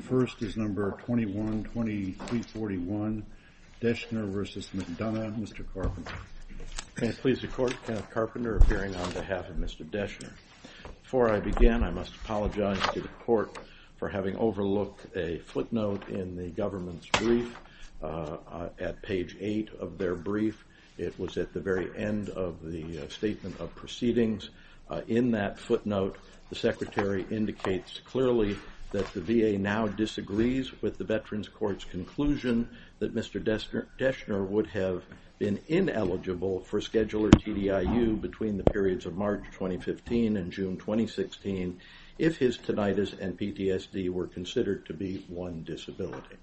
The first is number 212341, Deshner v. McDonough. Mr. Carpenter. May it please the Court, Kenneth Carpenter appearing on behalf of Mr. Deshner. Before I begin, I must apologize to the Court for having overlooked a footnote in the government's brief at page 8 of their brief. It was at the very end of the Statement of Proceedings. In that footnote, the Secretary indicates clearly that the VA now disagrees with the Veterans Court's conclusion that Mr. Deshner would have been ineligible for scheduler TDIU between the periods of March 2015 and June 2016 if his tinnitus and PTSD were considered to be one disability.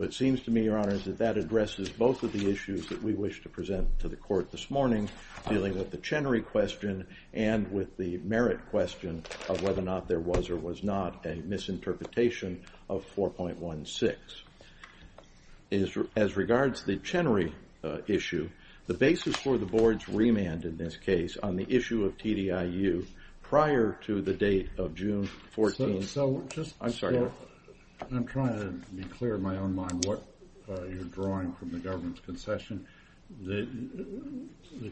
It seems to me, Your Honor, that that addresses both of the issues that we wish to present to the Court this morning dealing with the Chenery question and with the merit question of whether or not there was or was not a misinterpretation of 4.16. As regards the Chenery issue, the basis for the Board's remand in this case on the issue of TDIU prior to the date of June 14th I'm sorry, Your Honor. I'm trying to be clear in my own mind what you're drawing from the government's concession. The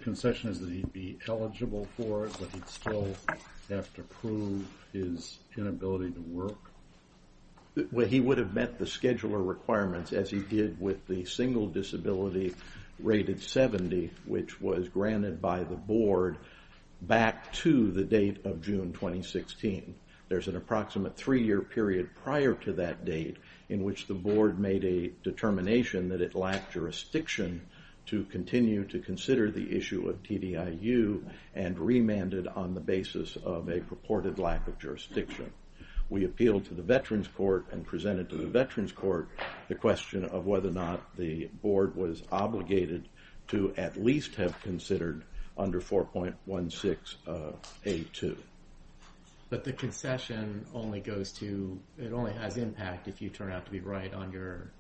concession is that he'd be eligible for it but he'd still have to prove his inability to work? Well, he would have met the scheduler requirements as he did with the single disability rated 70 which was granted by the Board back to the date of June 2016. There's an approximate three year period prior to that date in which the Board made a determination that it lacked jurisdiction to continue to consider the issue of TDIU and remanded on the basis of a purported lack of jurisdiction. We appealed to the Veterans Court and presented to the Veterans Court the question of whether or not the Board was obligated to at least have considered under 4.16 of A2. But the concession only goes to, it only has impact if you turn out to be right on your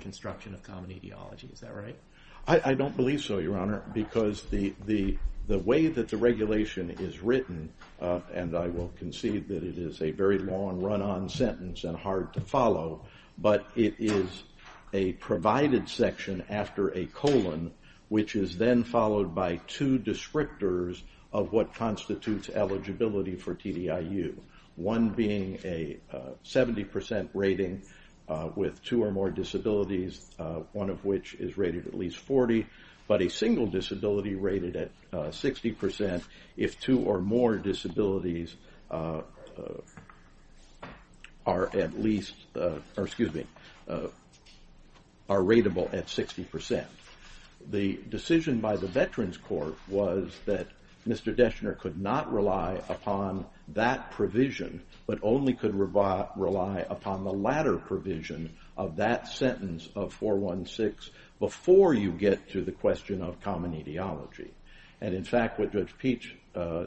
construction of common etiology, is that right? I don't believe so, Your Honor, because the way that the regulation is written and I will concede that it is a very long run-on sentence and hard to follow but it is a provided section after a colon which is then followed by two descriptors of what constitutes eligibility for TDIU. One being a 70% rating with two or more disabilities, one of which is rated at least 40, but a single disability rated at 60% if two or more disabilities are rateable at 60%. The decision by the Veterans Court was that Mr. Deschner could not rely upon that provision but only could rely upon the latter provision of that sentence of 4.16 before you get to the question of common etiology. And in fact what Judge Peach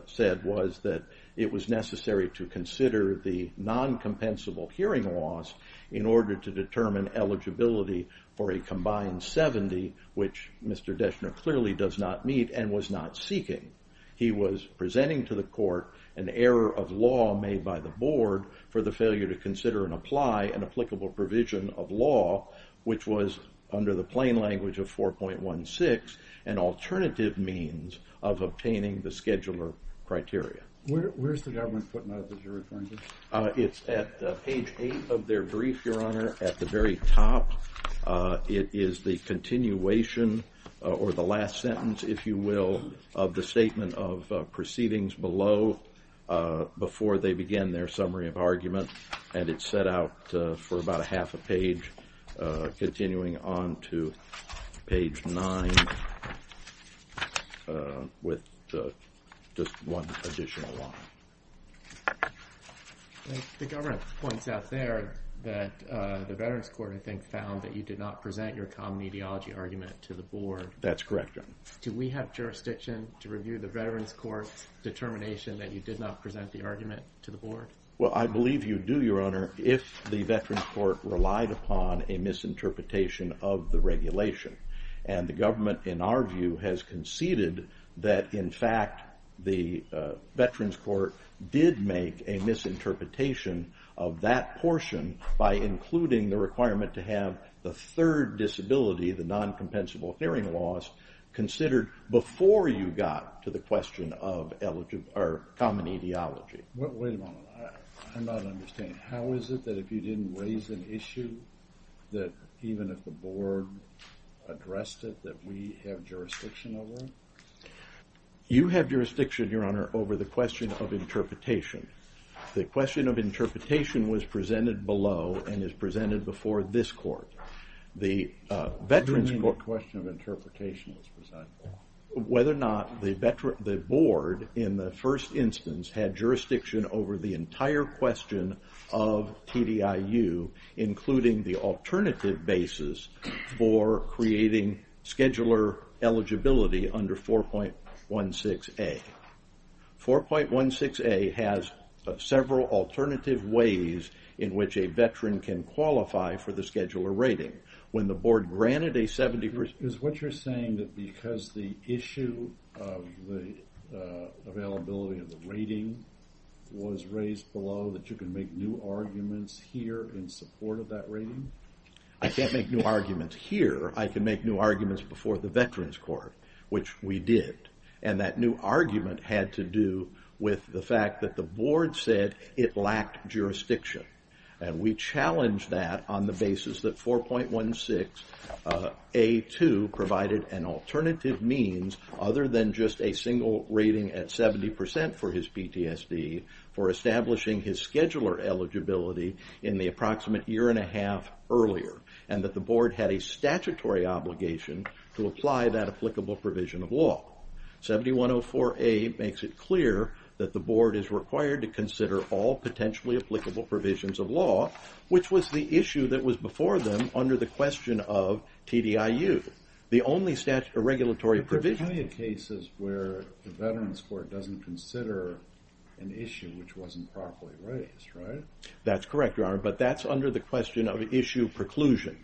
said was that it was necessary to consider the non-compensable hearing laws in order to determine eligibility for a combined 70 which Mr. Deschner clearly does not meet and was not seeking. He was presenting to the court an error of law made by the board for the failure to consider and apply an applicable provision of law which was under the plain language of 4.16 an alternative means of obtaining the scheduler criteria. Where is the government putting that as you're referring to? It's at page 8 of their brief, Your Honor, at the very top. It is the continuation or the last sentence, if you will, of the statement of proceedings below before they begin their summary of argument and it's set out for about a half a page continuing on to page 9 with just one additional line. The government points out there that the Veterans Court, I think, found that you did not present your common etiology argument to the board. That's correct, Your Honor. Do we have jurisdiction to review the Veterans Court's determination that you did not present the argument to the board? Well, I believe you do, Your Honor, if the Veterans Court relied upon a misinterpretation of the regulation and the government, in our view, has conceded that, in fact, the Veterans Court did make a misinterpretation of that portion by including the requirement to have the third disability, the non-compensable hearing loss, considered before you got to the question of common etiology. Wait a moment. I'm not understanding. How is it that if you didn't raise an issue, that even if the board addressed it, that we have jurisdiction over it? You have jurisdiction, Your Honor, over the question of interpretation. The question of interpretation was presented below and is presented before this court. What do you mean the question of interpretation was presented below? Whether or not the board, in the first instance, had jurisdiction over the entire question of TDIU, including the alternative basis for creating scheduler eligibility under 4.16a. 4.16a has several alternative ways in which a veteran can qualify for the scheduler rating. Is what you're saying that because the issue of the availability of the rating was raised below that you can make new arguments here in support of that rating? I can't make new arguments here. I can make new arguments before the Veterans Court, which we did. And that new argument had to do with the fact that the board said it lacked jurisdiction. And we challenged that on the basis that 4.16a.2 provided an alternative means, other than just a single rating at 70% for his PTSD, for establishing his scheduler eligibility in the approximate year and a half earlier. And that the board had a statutory obligation to apply that applicable provision of law. 7104a makes it clear that the board is required to consider all potentially applicable provisions of law, which was the issue that was before them under the question of TDIU, the only statutory or regulatory provision. There are plenty of cases where the Veterans Court doesn't consider an issue which wasn't properly raised, right? That's correct, Your Honor, but that's under the question of issue preclusion.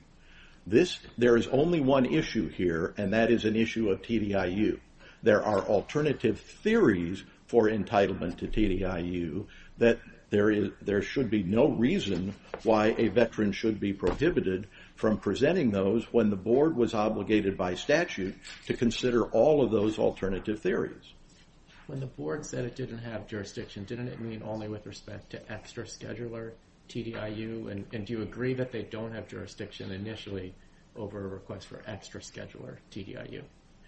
There is only one issue here, and that is an issue of TDIU. There are alternative theories for entitlement to TDIU that there should be no reason why a veteran should be prohibited from presenting those when the board was obligated by statute to consider all of those alternative theories. When the board said it didn't have jurisdiction, didn't it mean only with respect to extra scheduler, TDIU? And do you agree that they don't have jurisdiction initially over a request for extra scheduler, TDIU?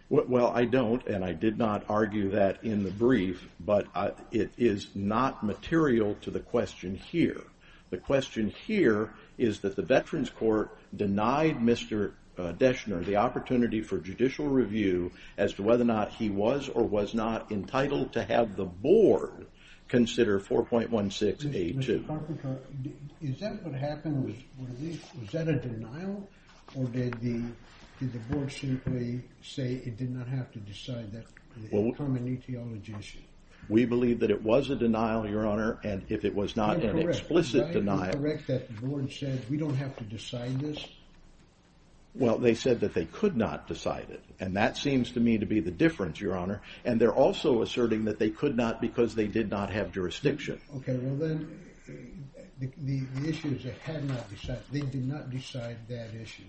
Well, I don't, and I did not argue that in the brief, but it is not material to the question here. The question here is that the Veterans Court denied Mr. Deschner the opportunity for judicial review as to whether or not he was or was not entitled to have the board consider 4.16a2. Mr. Carpenter, is that what happened? Was that a denial, or did the board simply say it did not have to decide that? We believe that it was a denial, Your Honor, and if it was not an explicit denial... Am I correct that the board said we don't have to decide this? Well, they said that they could not decide it, and that seems to me to be the difference, Your Honor, and they're also asserting that they could not because they did not have jurisdiction. Okay, well then, the issue is they did not decide that issue.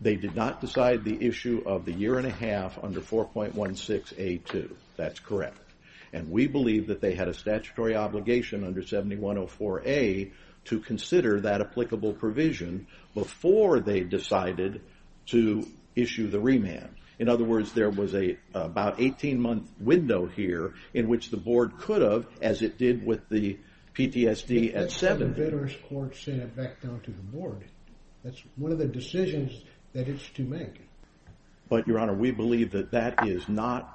They did not decide the issue of the year and a half under 4.16a2. That's correct. And we believe that they had a statutory obligation under 7104a to consider that applicable provision before they decided to issue the remand. In other words, there was about an 18-month window here in which the board could have, as it did with the PTSD at 7... That's what the Veterans Court sent back down to the board. That's one of the decisions that it's to make. But, Your Honor, we believe that that is not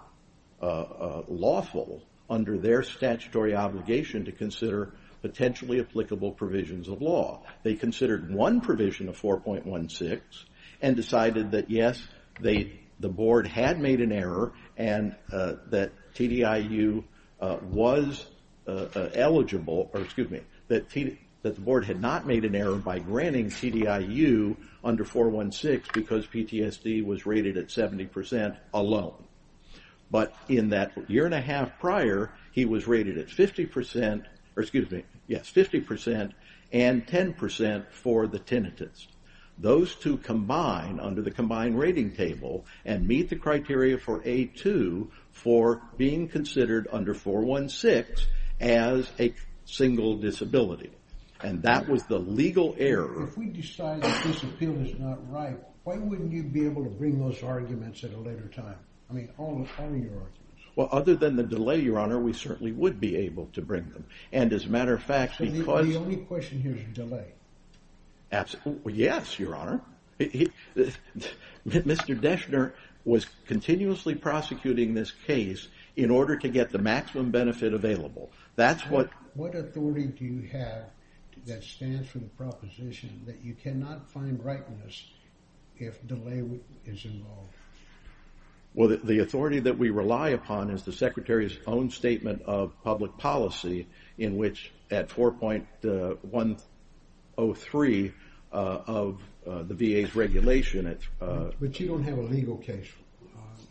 lawful under their statutory obligation to consider potentially applicable provisions of law. They considered one provision of 4.16 and decided that, yes, the board had made an error and that TDIU was eligible, or excuse me, that the board had not made an error by granting TDIU under 4.16 because PTSD was rated at 70% alone. But in that year and a half prior, he was rated at 50% and 10% for the tinnitus. Those two combine under the combined rating table and meet the criteria for a2 for being considered under 4.16 as a single disability. And that was the legal error. If we decide that this appeal is not right, why wouldn't you be able to bring those arguments at a later time? I mean, all of your arguments. Well, other than the delay, Your Honor, we certainly would be able to bring them. And as a matter of fact, because... The only question here is delay. Absolutely. Yes, Your Honor. Mr. Deschner was continuously prosecuting this case in order to get the maximum benefit available. That's what... that stands for the proposition that you cannot find rightness if delay is involved. Well, the authority that we rely upon is the Secretary's own statement of public policy in which at 4.103 of the VA's regulation... But you don't have a legal case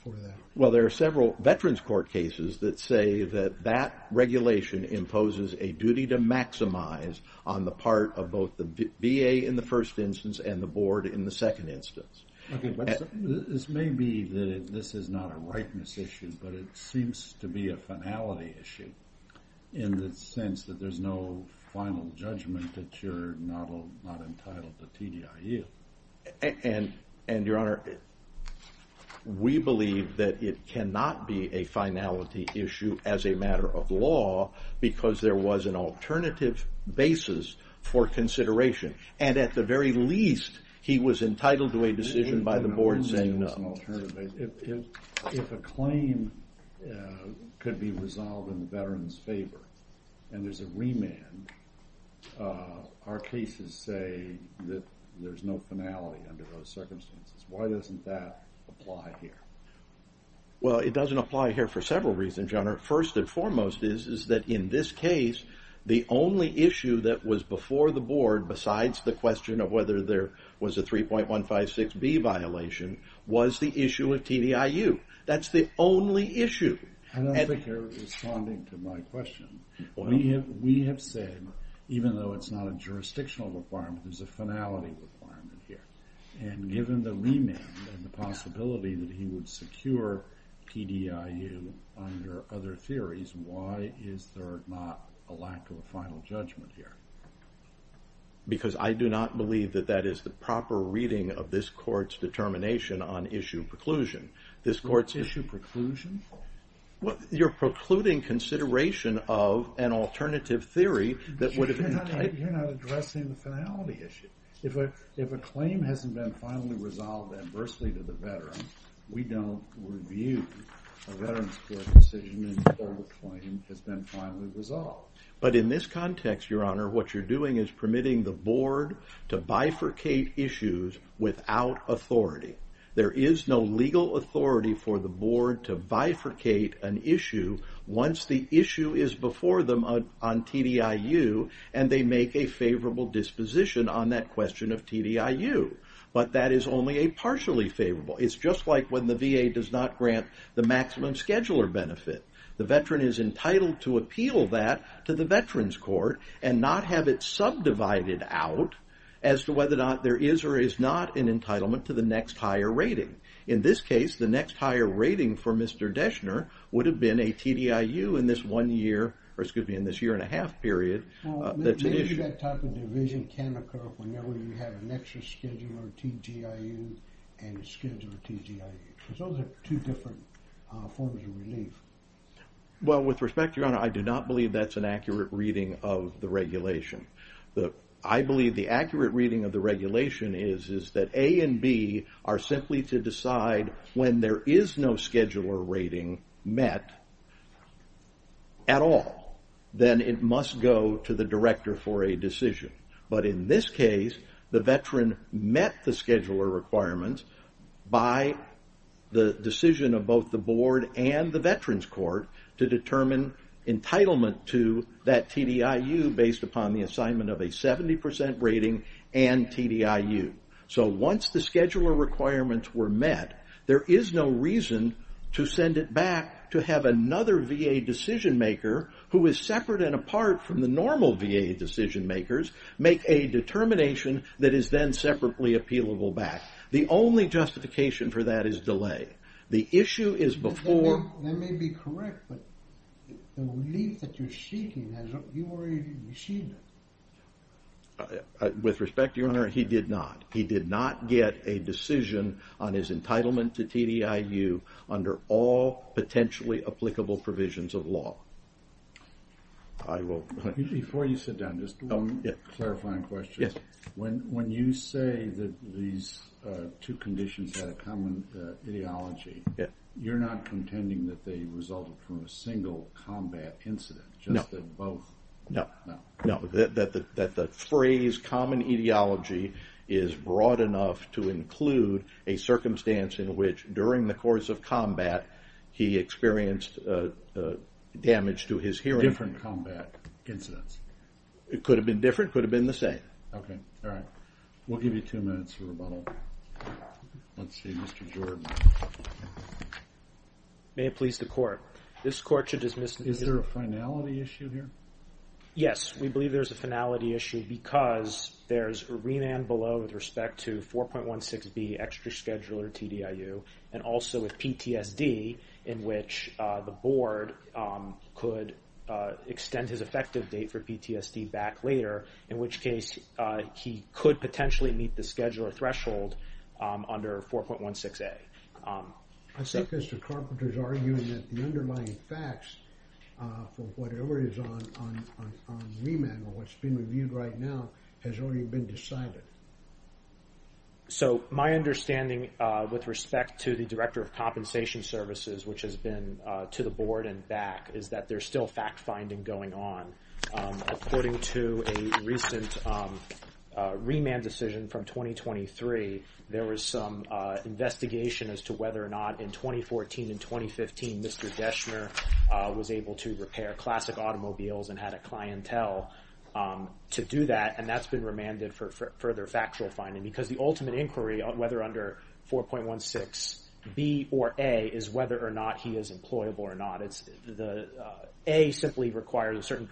for that. Well, there are several veterans court cases that say that that regulation imposes a duty to maximize on the part of both the VA in the first instance and the board in the second instance. This may be that this is not a rightness issue, but it seems to be a finality issue in the sense that there's no final judgment that you're not entitled to TDIU. And, Your Honor, we believe that it cannot be a finality issue as a matter of law because there was an alternative basis for consideration. And at the very least, he was entitled to a decision by the board saying no. If a claim could be resolved in the veteran's favor and there's a remand, our cases say that there's no finality under those circumstances. Why doesn't that apply here? Well, it doesn't apply here for several reasons, Your Honor. First and foremost is that in this case, the only issue that was before the board besides the question of whether there was a 3.156B violation was the issue of TDIU. That's the only issue. I don't think you're responding to my question. We have said, even though it's not a jurisdictional requirement, there's a finality requirement here. And given the remand and the possibility that he would secure TDIU under other theories, why is there not a lack of a final judgment here? Because I do not believe that that is the proper reading of this court's determination on issue preclusion. Issue preclusion? You're precluding consideration of an alternative theory that would have been typed. You're not addressing the finality issue. If a claim hasn't been finally resolved adversely to the veteran, we don't review a veteran's court decision until the claim has been finally resolved. But in this context, Your Honor, what you're doing is permitting the board to bifurcate issues without authority. There is no legal authority for the board to bifurcate an issue once the issue is before them on TDIU, and they make a favorable disposition on that question of TDIU. But that is only a partially favorable. It's just like when the VA does not grant the maximum scheduler benefit. The veteran is entitled to appeal that to the veterans court and not have it subdivided out as to whether or not there is or is not an entitlement to the next higher rating. In this case, the next higher rating for Mr. Deschner would have been a TDIU in this year and a half period. Maybe that type of division can occur whenever you have an extra scheduler TDIU and a scheduler TDIU, because those are two different forms of relief. With respect, Your Honor, I do not believe that's an accurate reading of the regulation. I believe the accurate reading of the regulation is that A and B are simply to decide when there is no scheduler rating met at all. Then it must go to the director for a decision. But in this case, the veteran met the scheduler requirements by the decision of both the board and the veterans court to determine entitlement to that TDIU based upon the assignment of a 70% rating and TDIU. Once the scheduler requirements were met, there is no reason to send it back to have another VA decision maker who is separate and apart from the normal VA decision makers make a determination that is then separately appealable back. The only justification for that is delay. The issue is before... That may be correct, but the relief that you're seeking, you already received it. With respect, Your Honor, he did not. He did not get a decision on his entitlement to TDIU under all potentially applicable provisions of law. Before you sit down, just one clarifying question. When you say that these two conditions had a common ideology, you're not contending that they resulted from a single combat incident, just that both... No, that the phrase common ideology is broad enough to include a circumstance in which during the course of combat he experienced damage to his hearing. Different combat incidents. It could have been different, it could have been the same. Okay, all right. We'll give you two minutes for rebuttal. Let's see, Mr. Jordan. May it please the Court. This Court should dismiss... Is there a finality issue here? Yes, we believe there's a finality issue because there's a remand below with respect to 4.16B extra scheduler TDIU and also with PTSD in which the board could extend his effective date for PTSD back later, in which case he could potentially meet the scheduler threshold under 4.16A. I think Mr. Carpenter is arguing that the underlying facts for whatever is on remand or what's being reviewed right now has already been decided. So my understanding with respect to the Director of Compensation Services, which has been to the board and back, is that there's still fact-finding going on. According to a recent remand decision from 2023, there was some investigation as to whether or not in 2014 and 2015 Mr. Deschner was able to repair classic automobiles and had a clientele to do that, and that's been remanded for further factual finding because the ultimate inquiry on whether under 4.16B or A is whether or not he is employable or not. A simply requires a certain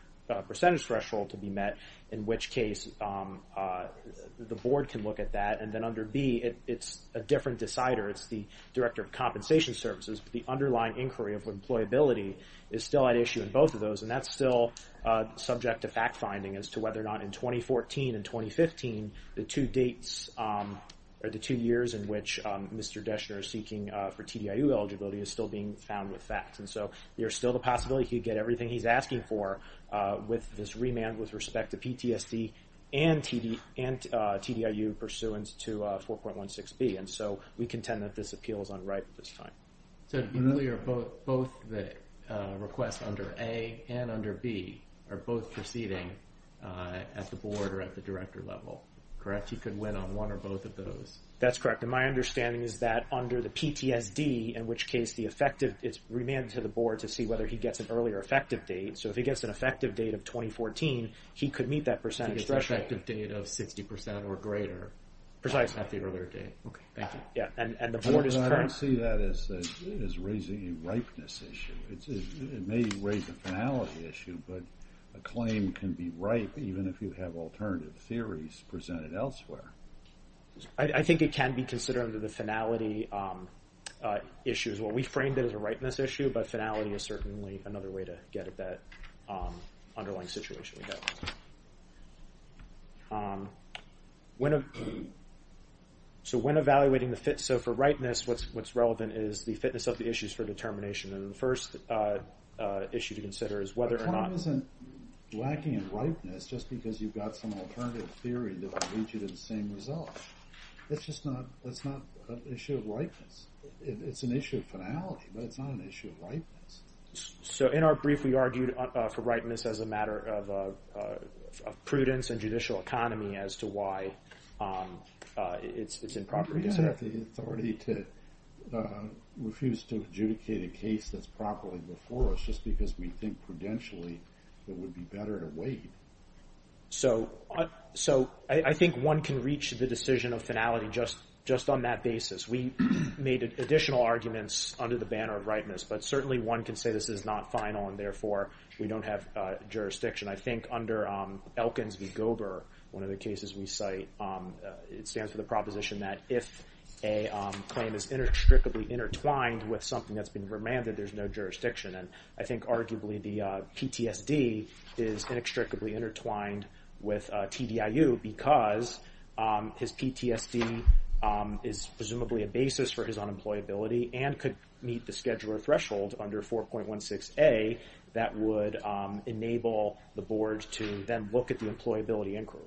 percentage threshold to be met, in which case the board can look at that, and then under B it's a different decider. It's the Director of Compensation Services. The underlying inquiry of employability is still at issue in both of those, and that's still subject to fact-finding as to whether or not in 2014 and 2015, the two years in which Mr. Deschner is seeking for TDIU eligibility is still being found with facts. And so there's still the possibility he'd get everything he's asking for with this remand with respect to PTSD and TDIU pursuant to 4.16B. And so we contend that this appeal is unripe at this time. So really both the requests under A and under B are both proceeding at the board or at the director level, correct? He could win on one or both of those. That's correct. And my understanding is that under the PTSD, in which case it's remanded to the board to see whether he gets an earlier effective date. So if he gets an effective date of 2014, he could meet that percentage threshold. So he gets an effective date of 60% or greater. Precise. At the earlier date. Okay, thank you. Yeah, and the board is concerned? I don't see that as raising a ripeness issue. It may raise a finality issue, but a claim can be ripe even if you have alternative theories presented elsewhere. I think it can be considered under the finality issues. Well, we framed it as a ripeness issue, but finality is certainly another way to get at that underlying situation. So when evaluating the fit, so for ripeness, what's relevant is the fitness of the issues for determination. And the first issue to consider is whether or not... A claim isn't lacking in ripeness just because you've got some alternative theory that will lead you to the same result. It's just not an issue of ripeness. It's an issue of finality, but it's not an issue of ripeness. So in our brief, we argued for ripeness as a matter of prudence and judicial economy as to why it's improper. We don't have the authority to refuse to adjudicate a case that's properly before us just because we think prudentially it would be better to wait. So I think one can reach the decision of finality just on that basis. We made additional arguments under the banner of ripeness, but certainly one can say this is not final and therefore we don't have jurisdiction. I think under Elkins v. Gober, one of the cases we cite, it stands for the proposition that if a claim is inextricably intertwined with something that's been remanded, there's no jurisdiction. And I think arguably the PTSD is inextricably intertwined with TDIU because his PTSD is presumably a basis for his unemployability and could meet the scheduler threshold under 4.16a that would enable the board to then look at the employability inquiry.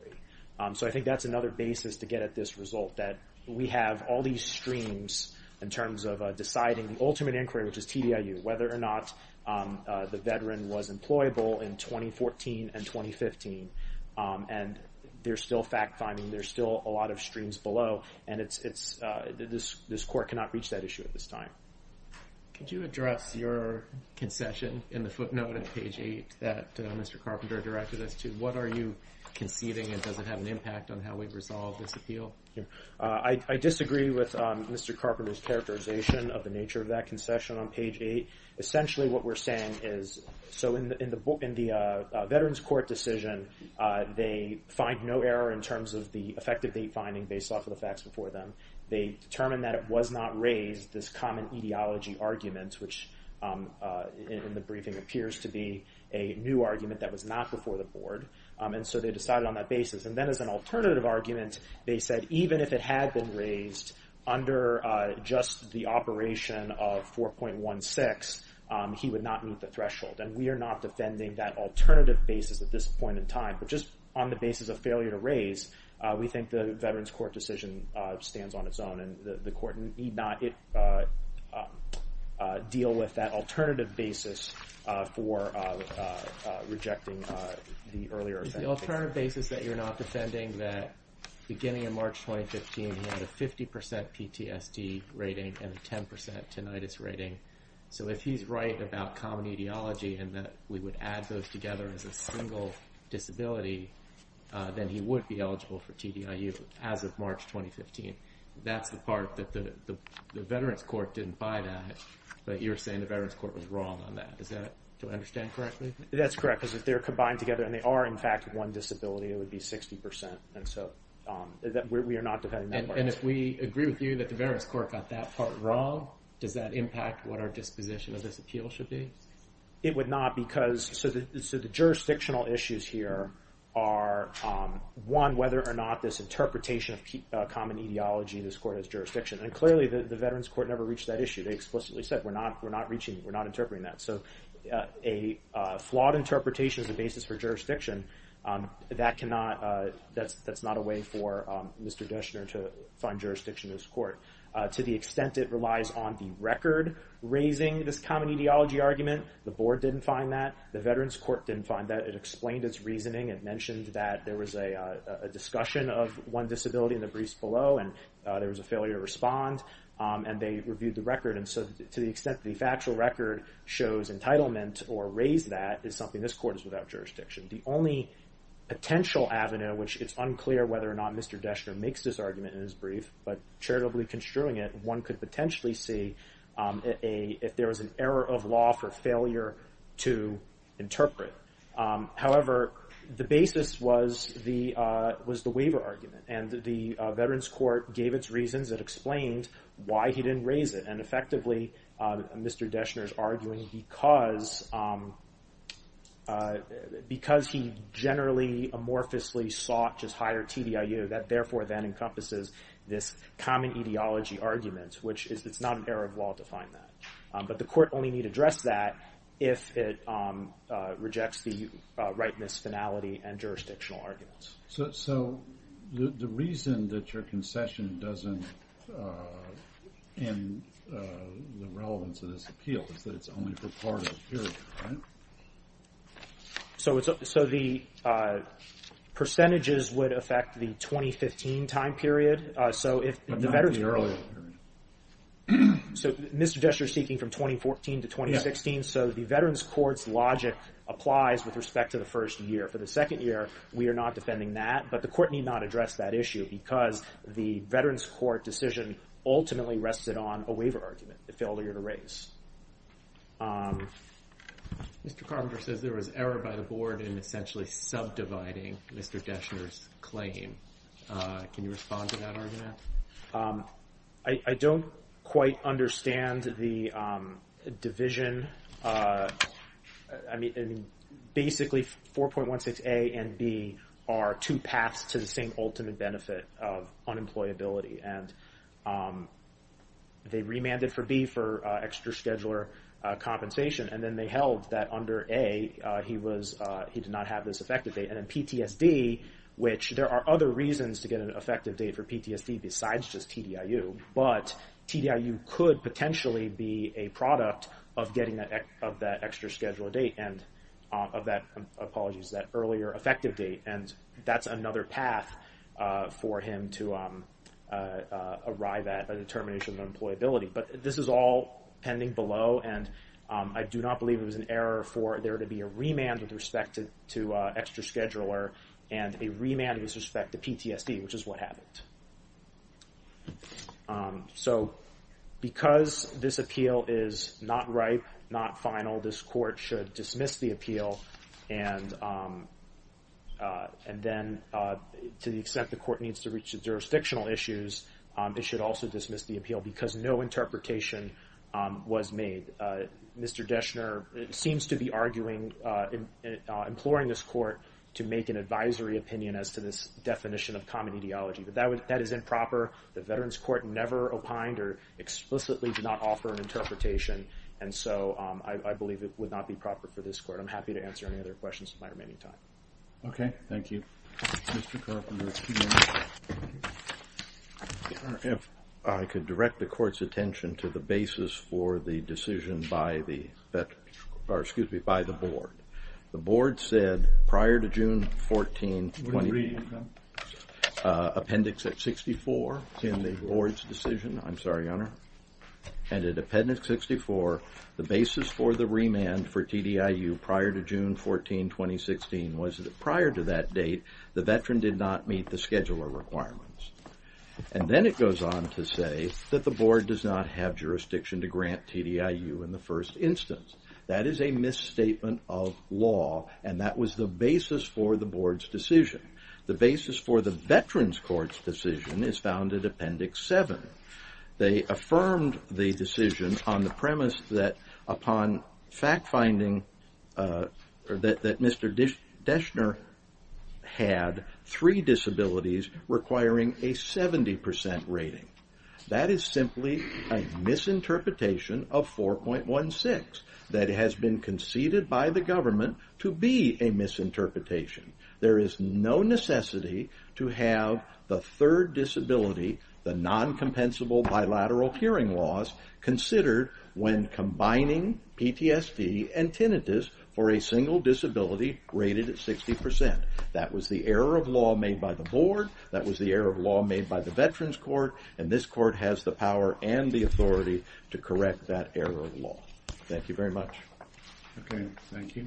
So I think that's another basis to get at this result, that we have all these streams in terms of deciding the ultimate inquiry, which is TDIU, whether or not the veteran was employable in 2014 and 2015. And there's still fact-finding. There's still a lot of streams below, and this court cannot reach that issue at this time. Could you address your concession in the footnote at page 8 that Mr. Carpenter directed us to? What are you conceding, and does it have an impact on how we resolve this appeal? I disagree with Mr. Carpenter's characterization of the nature of that concession on page 8. Essentially what we're saying is, so in the Veterans Court decision, they find no error in terms of the effective date finding based off of the facts before them. They determined that it was not raised, this common etiology argument, which in the briefing appears to be a new argument that was not before the board. And so they decided on that basis. And then as an alternative argument, they said even if it had been raised under just the operation of 4.16, he would not meet the threshold. And we are not defending that alternative basis at this point in time. But just on the basis of failure to raise, we think the Veterans Court decision stands on its own, and the court need not deal with that alternative basis for rejecting the earlier event. It's the alternative basis that you're not defending that beginning in March 2015, he had a 50% PTSD rating and a 10% tinnitus rating. So if he's right about common etiology and that we would add those together as a single disability, then he would be eligible for TDIU as of March 2015. That's the part that the Veterans Court didn't bite at, but you're saying the Veterans Court was wrong on that. Do I understand correctly? That's correct, because if they're combined together, and they are in fact one disability, it would be 60%. And so we are not defending that part. And if we agree with you that the Veterans Court got that part wrong, does that impact what our disposition of this appeal should be? It would not, because the jurisdictional issues here are, one, whether or not this interpretation of common etiology in this court has jurisdiction. And clearly, the Veterans Court never reached that issue. They explicitly said we're not interpreting that. So a flawed interpretation as a basis for jurisdiction, that's not a way for Mr. Deschner to find jurisdiction in this court. To the extent it relies on the record raising this common etiology argument, the board didn't find that, the Veterans Court didn't find that. It explained its reasoning. It mentioned that there was a discussion of one disability in the briefs below, and there was a failure to respond, and they reviewed the record. And so to the extent the factual record shows entitlement or raised that is something this court is without jurisdiction. The only potential avenue, which it's unclear whether or not Mr. Deschner makes this argument in his brief, but charitably construing it, one could potentially see if there was an error of law for failure to interpret. However, the basis was the waiver argument, and the Veterans Court gave its reasons. It explained why he didn't raise it. And effectively, Mr. Deschner's arguing because he generally amorphously sought just higher TDIU, that therefore then encompasses this common etiology argument, which is it's not an error of law to find that. But the court only need address that if it rejects the rightness, finality, and jurisdictional arguments. So the reason that your concession doesn't end the relevance of this appeal is that it's only for part of the period, right? So the percentages would affect the 2015 time period. But not the earlier period. So Mr. Deschner's speaking from 2014 to 2016, so the Veterans Court's logic applies with respect to the first year. For the second year, we are not defending that, but the court need not address that issue because the Veterans Court decision ultimately rested on a waiver argument, the failure to raise. Mr. Carpenter says there was error by the board in essentially subdividing Mr. Deschner's claim. Can you respond to that argument? I don't quite understand the division. Basically, 4.16A and B are two paths to the same ultimate benefit of unemployability. And they remanded for B for extra scheduler compensation, and then they held that under A, he did not have this effective date. And in PTSD, which there are other reasons to get an effective date for PTSD, besides just TDIU, but TDIU could potentially be a product of getting that extra scheduler date and of that earlier effective date, and that's another path for him to arrive at a determination of employability. But this is all pending below, and I do not believe it was an error for there to be a remand with respect to extra scheduler and a remand with respect to PTSD, which is what happened. So because this appeal is not ripe, not final, this court should dismiss the appeal and then to the extent the court needs to reach the jurisdictional issues, it should also dismiss the appeal because no interpretation was made. And Mr. Deschner seems to be arguing, imploring this court to make an advisory opinion as to this definition of common ideology. But that is improper. The Veterans Court never opined or explicitly did not offer an interpretation. And so I believe it would not be proper for this court. I'm happy to answer any other questions in my remaining time. Robert Nussbaum Okay, thank you. Mr. Kerr, for your two minutes. If I could direct the court's attention to the basis for the decision by the board. The board said prior to June 14, appendix 64 in the board's decision, I'm sorry, Your Honor, and in appendix 64, the basis for the remand for TDIU prior to June 14, 2016, was that prior to that date, the veteran did not meet the scheduler requirements. And then it goes on to say that the board does not have jurisdiction to grant TDIU in the first instance. That is a misstatement of law, and that was the basis for the board's decision. The basis for the Veterans Court's decision is found in appendix 7. They affirmed the decision on the premise that upon fact-finding that Mr. Deschner had three disabilities requiring a 70% rating. That is simply a misinterpretation of 4.16 that has been conceded by the government to be a misinterpretation. There is no necessity to have the third disability, the non-compensable bilateral hearing loss, considered when combining PTSD and tinnitus for a single disability rated at 60%. That was the error of law made by the board, that was the error of law made by the Veterans Court, and this court has the power and the authority to correct that error of law. Thank you very much. Okay, thank you.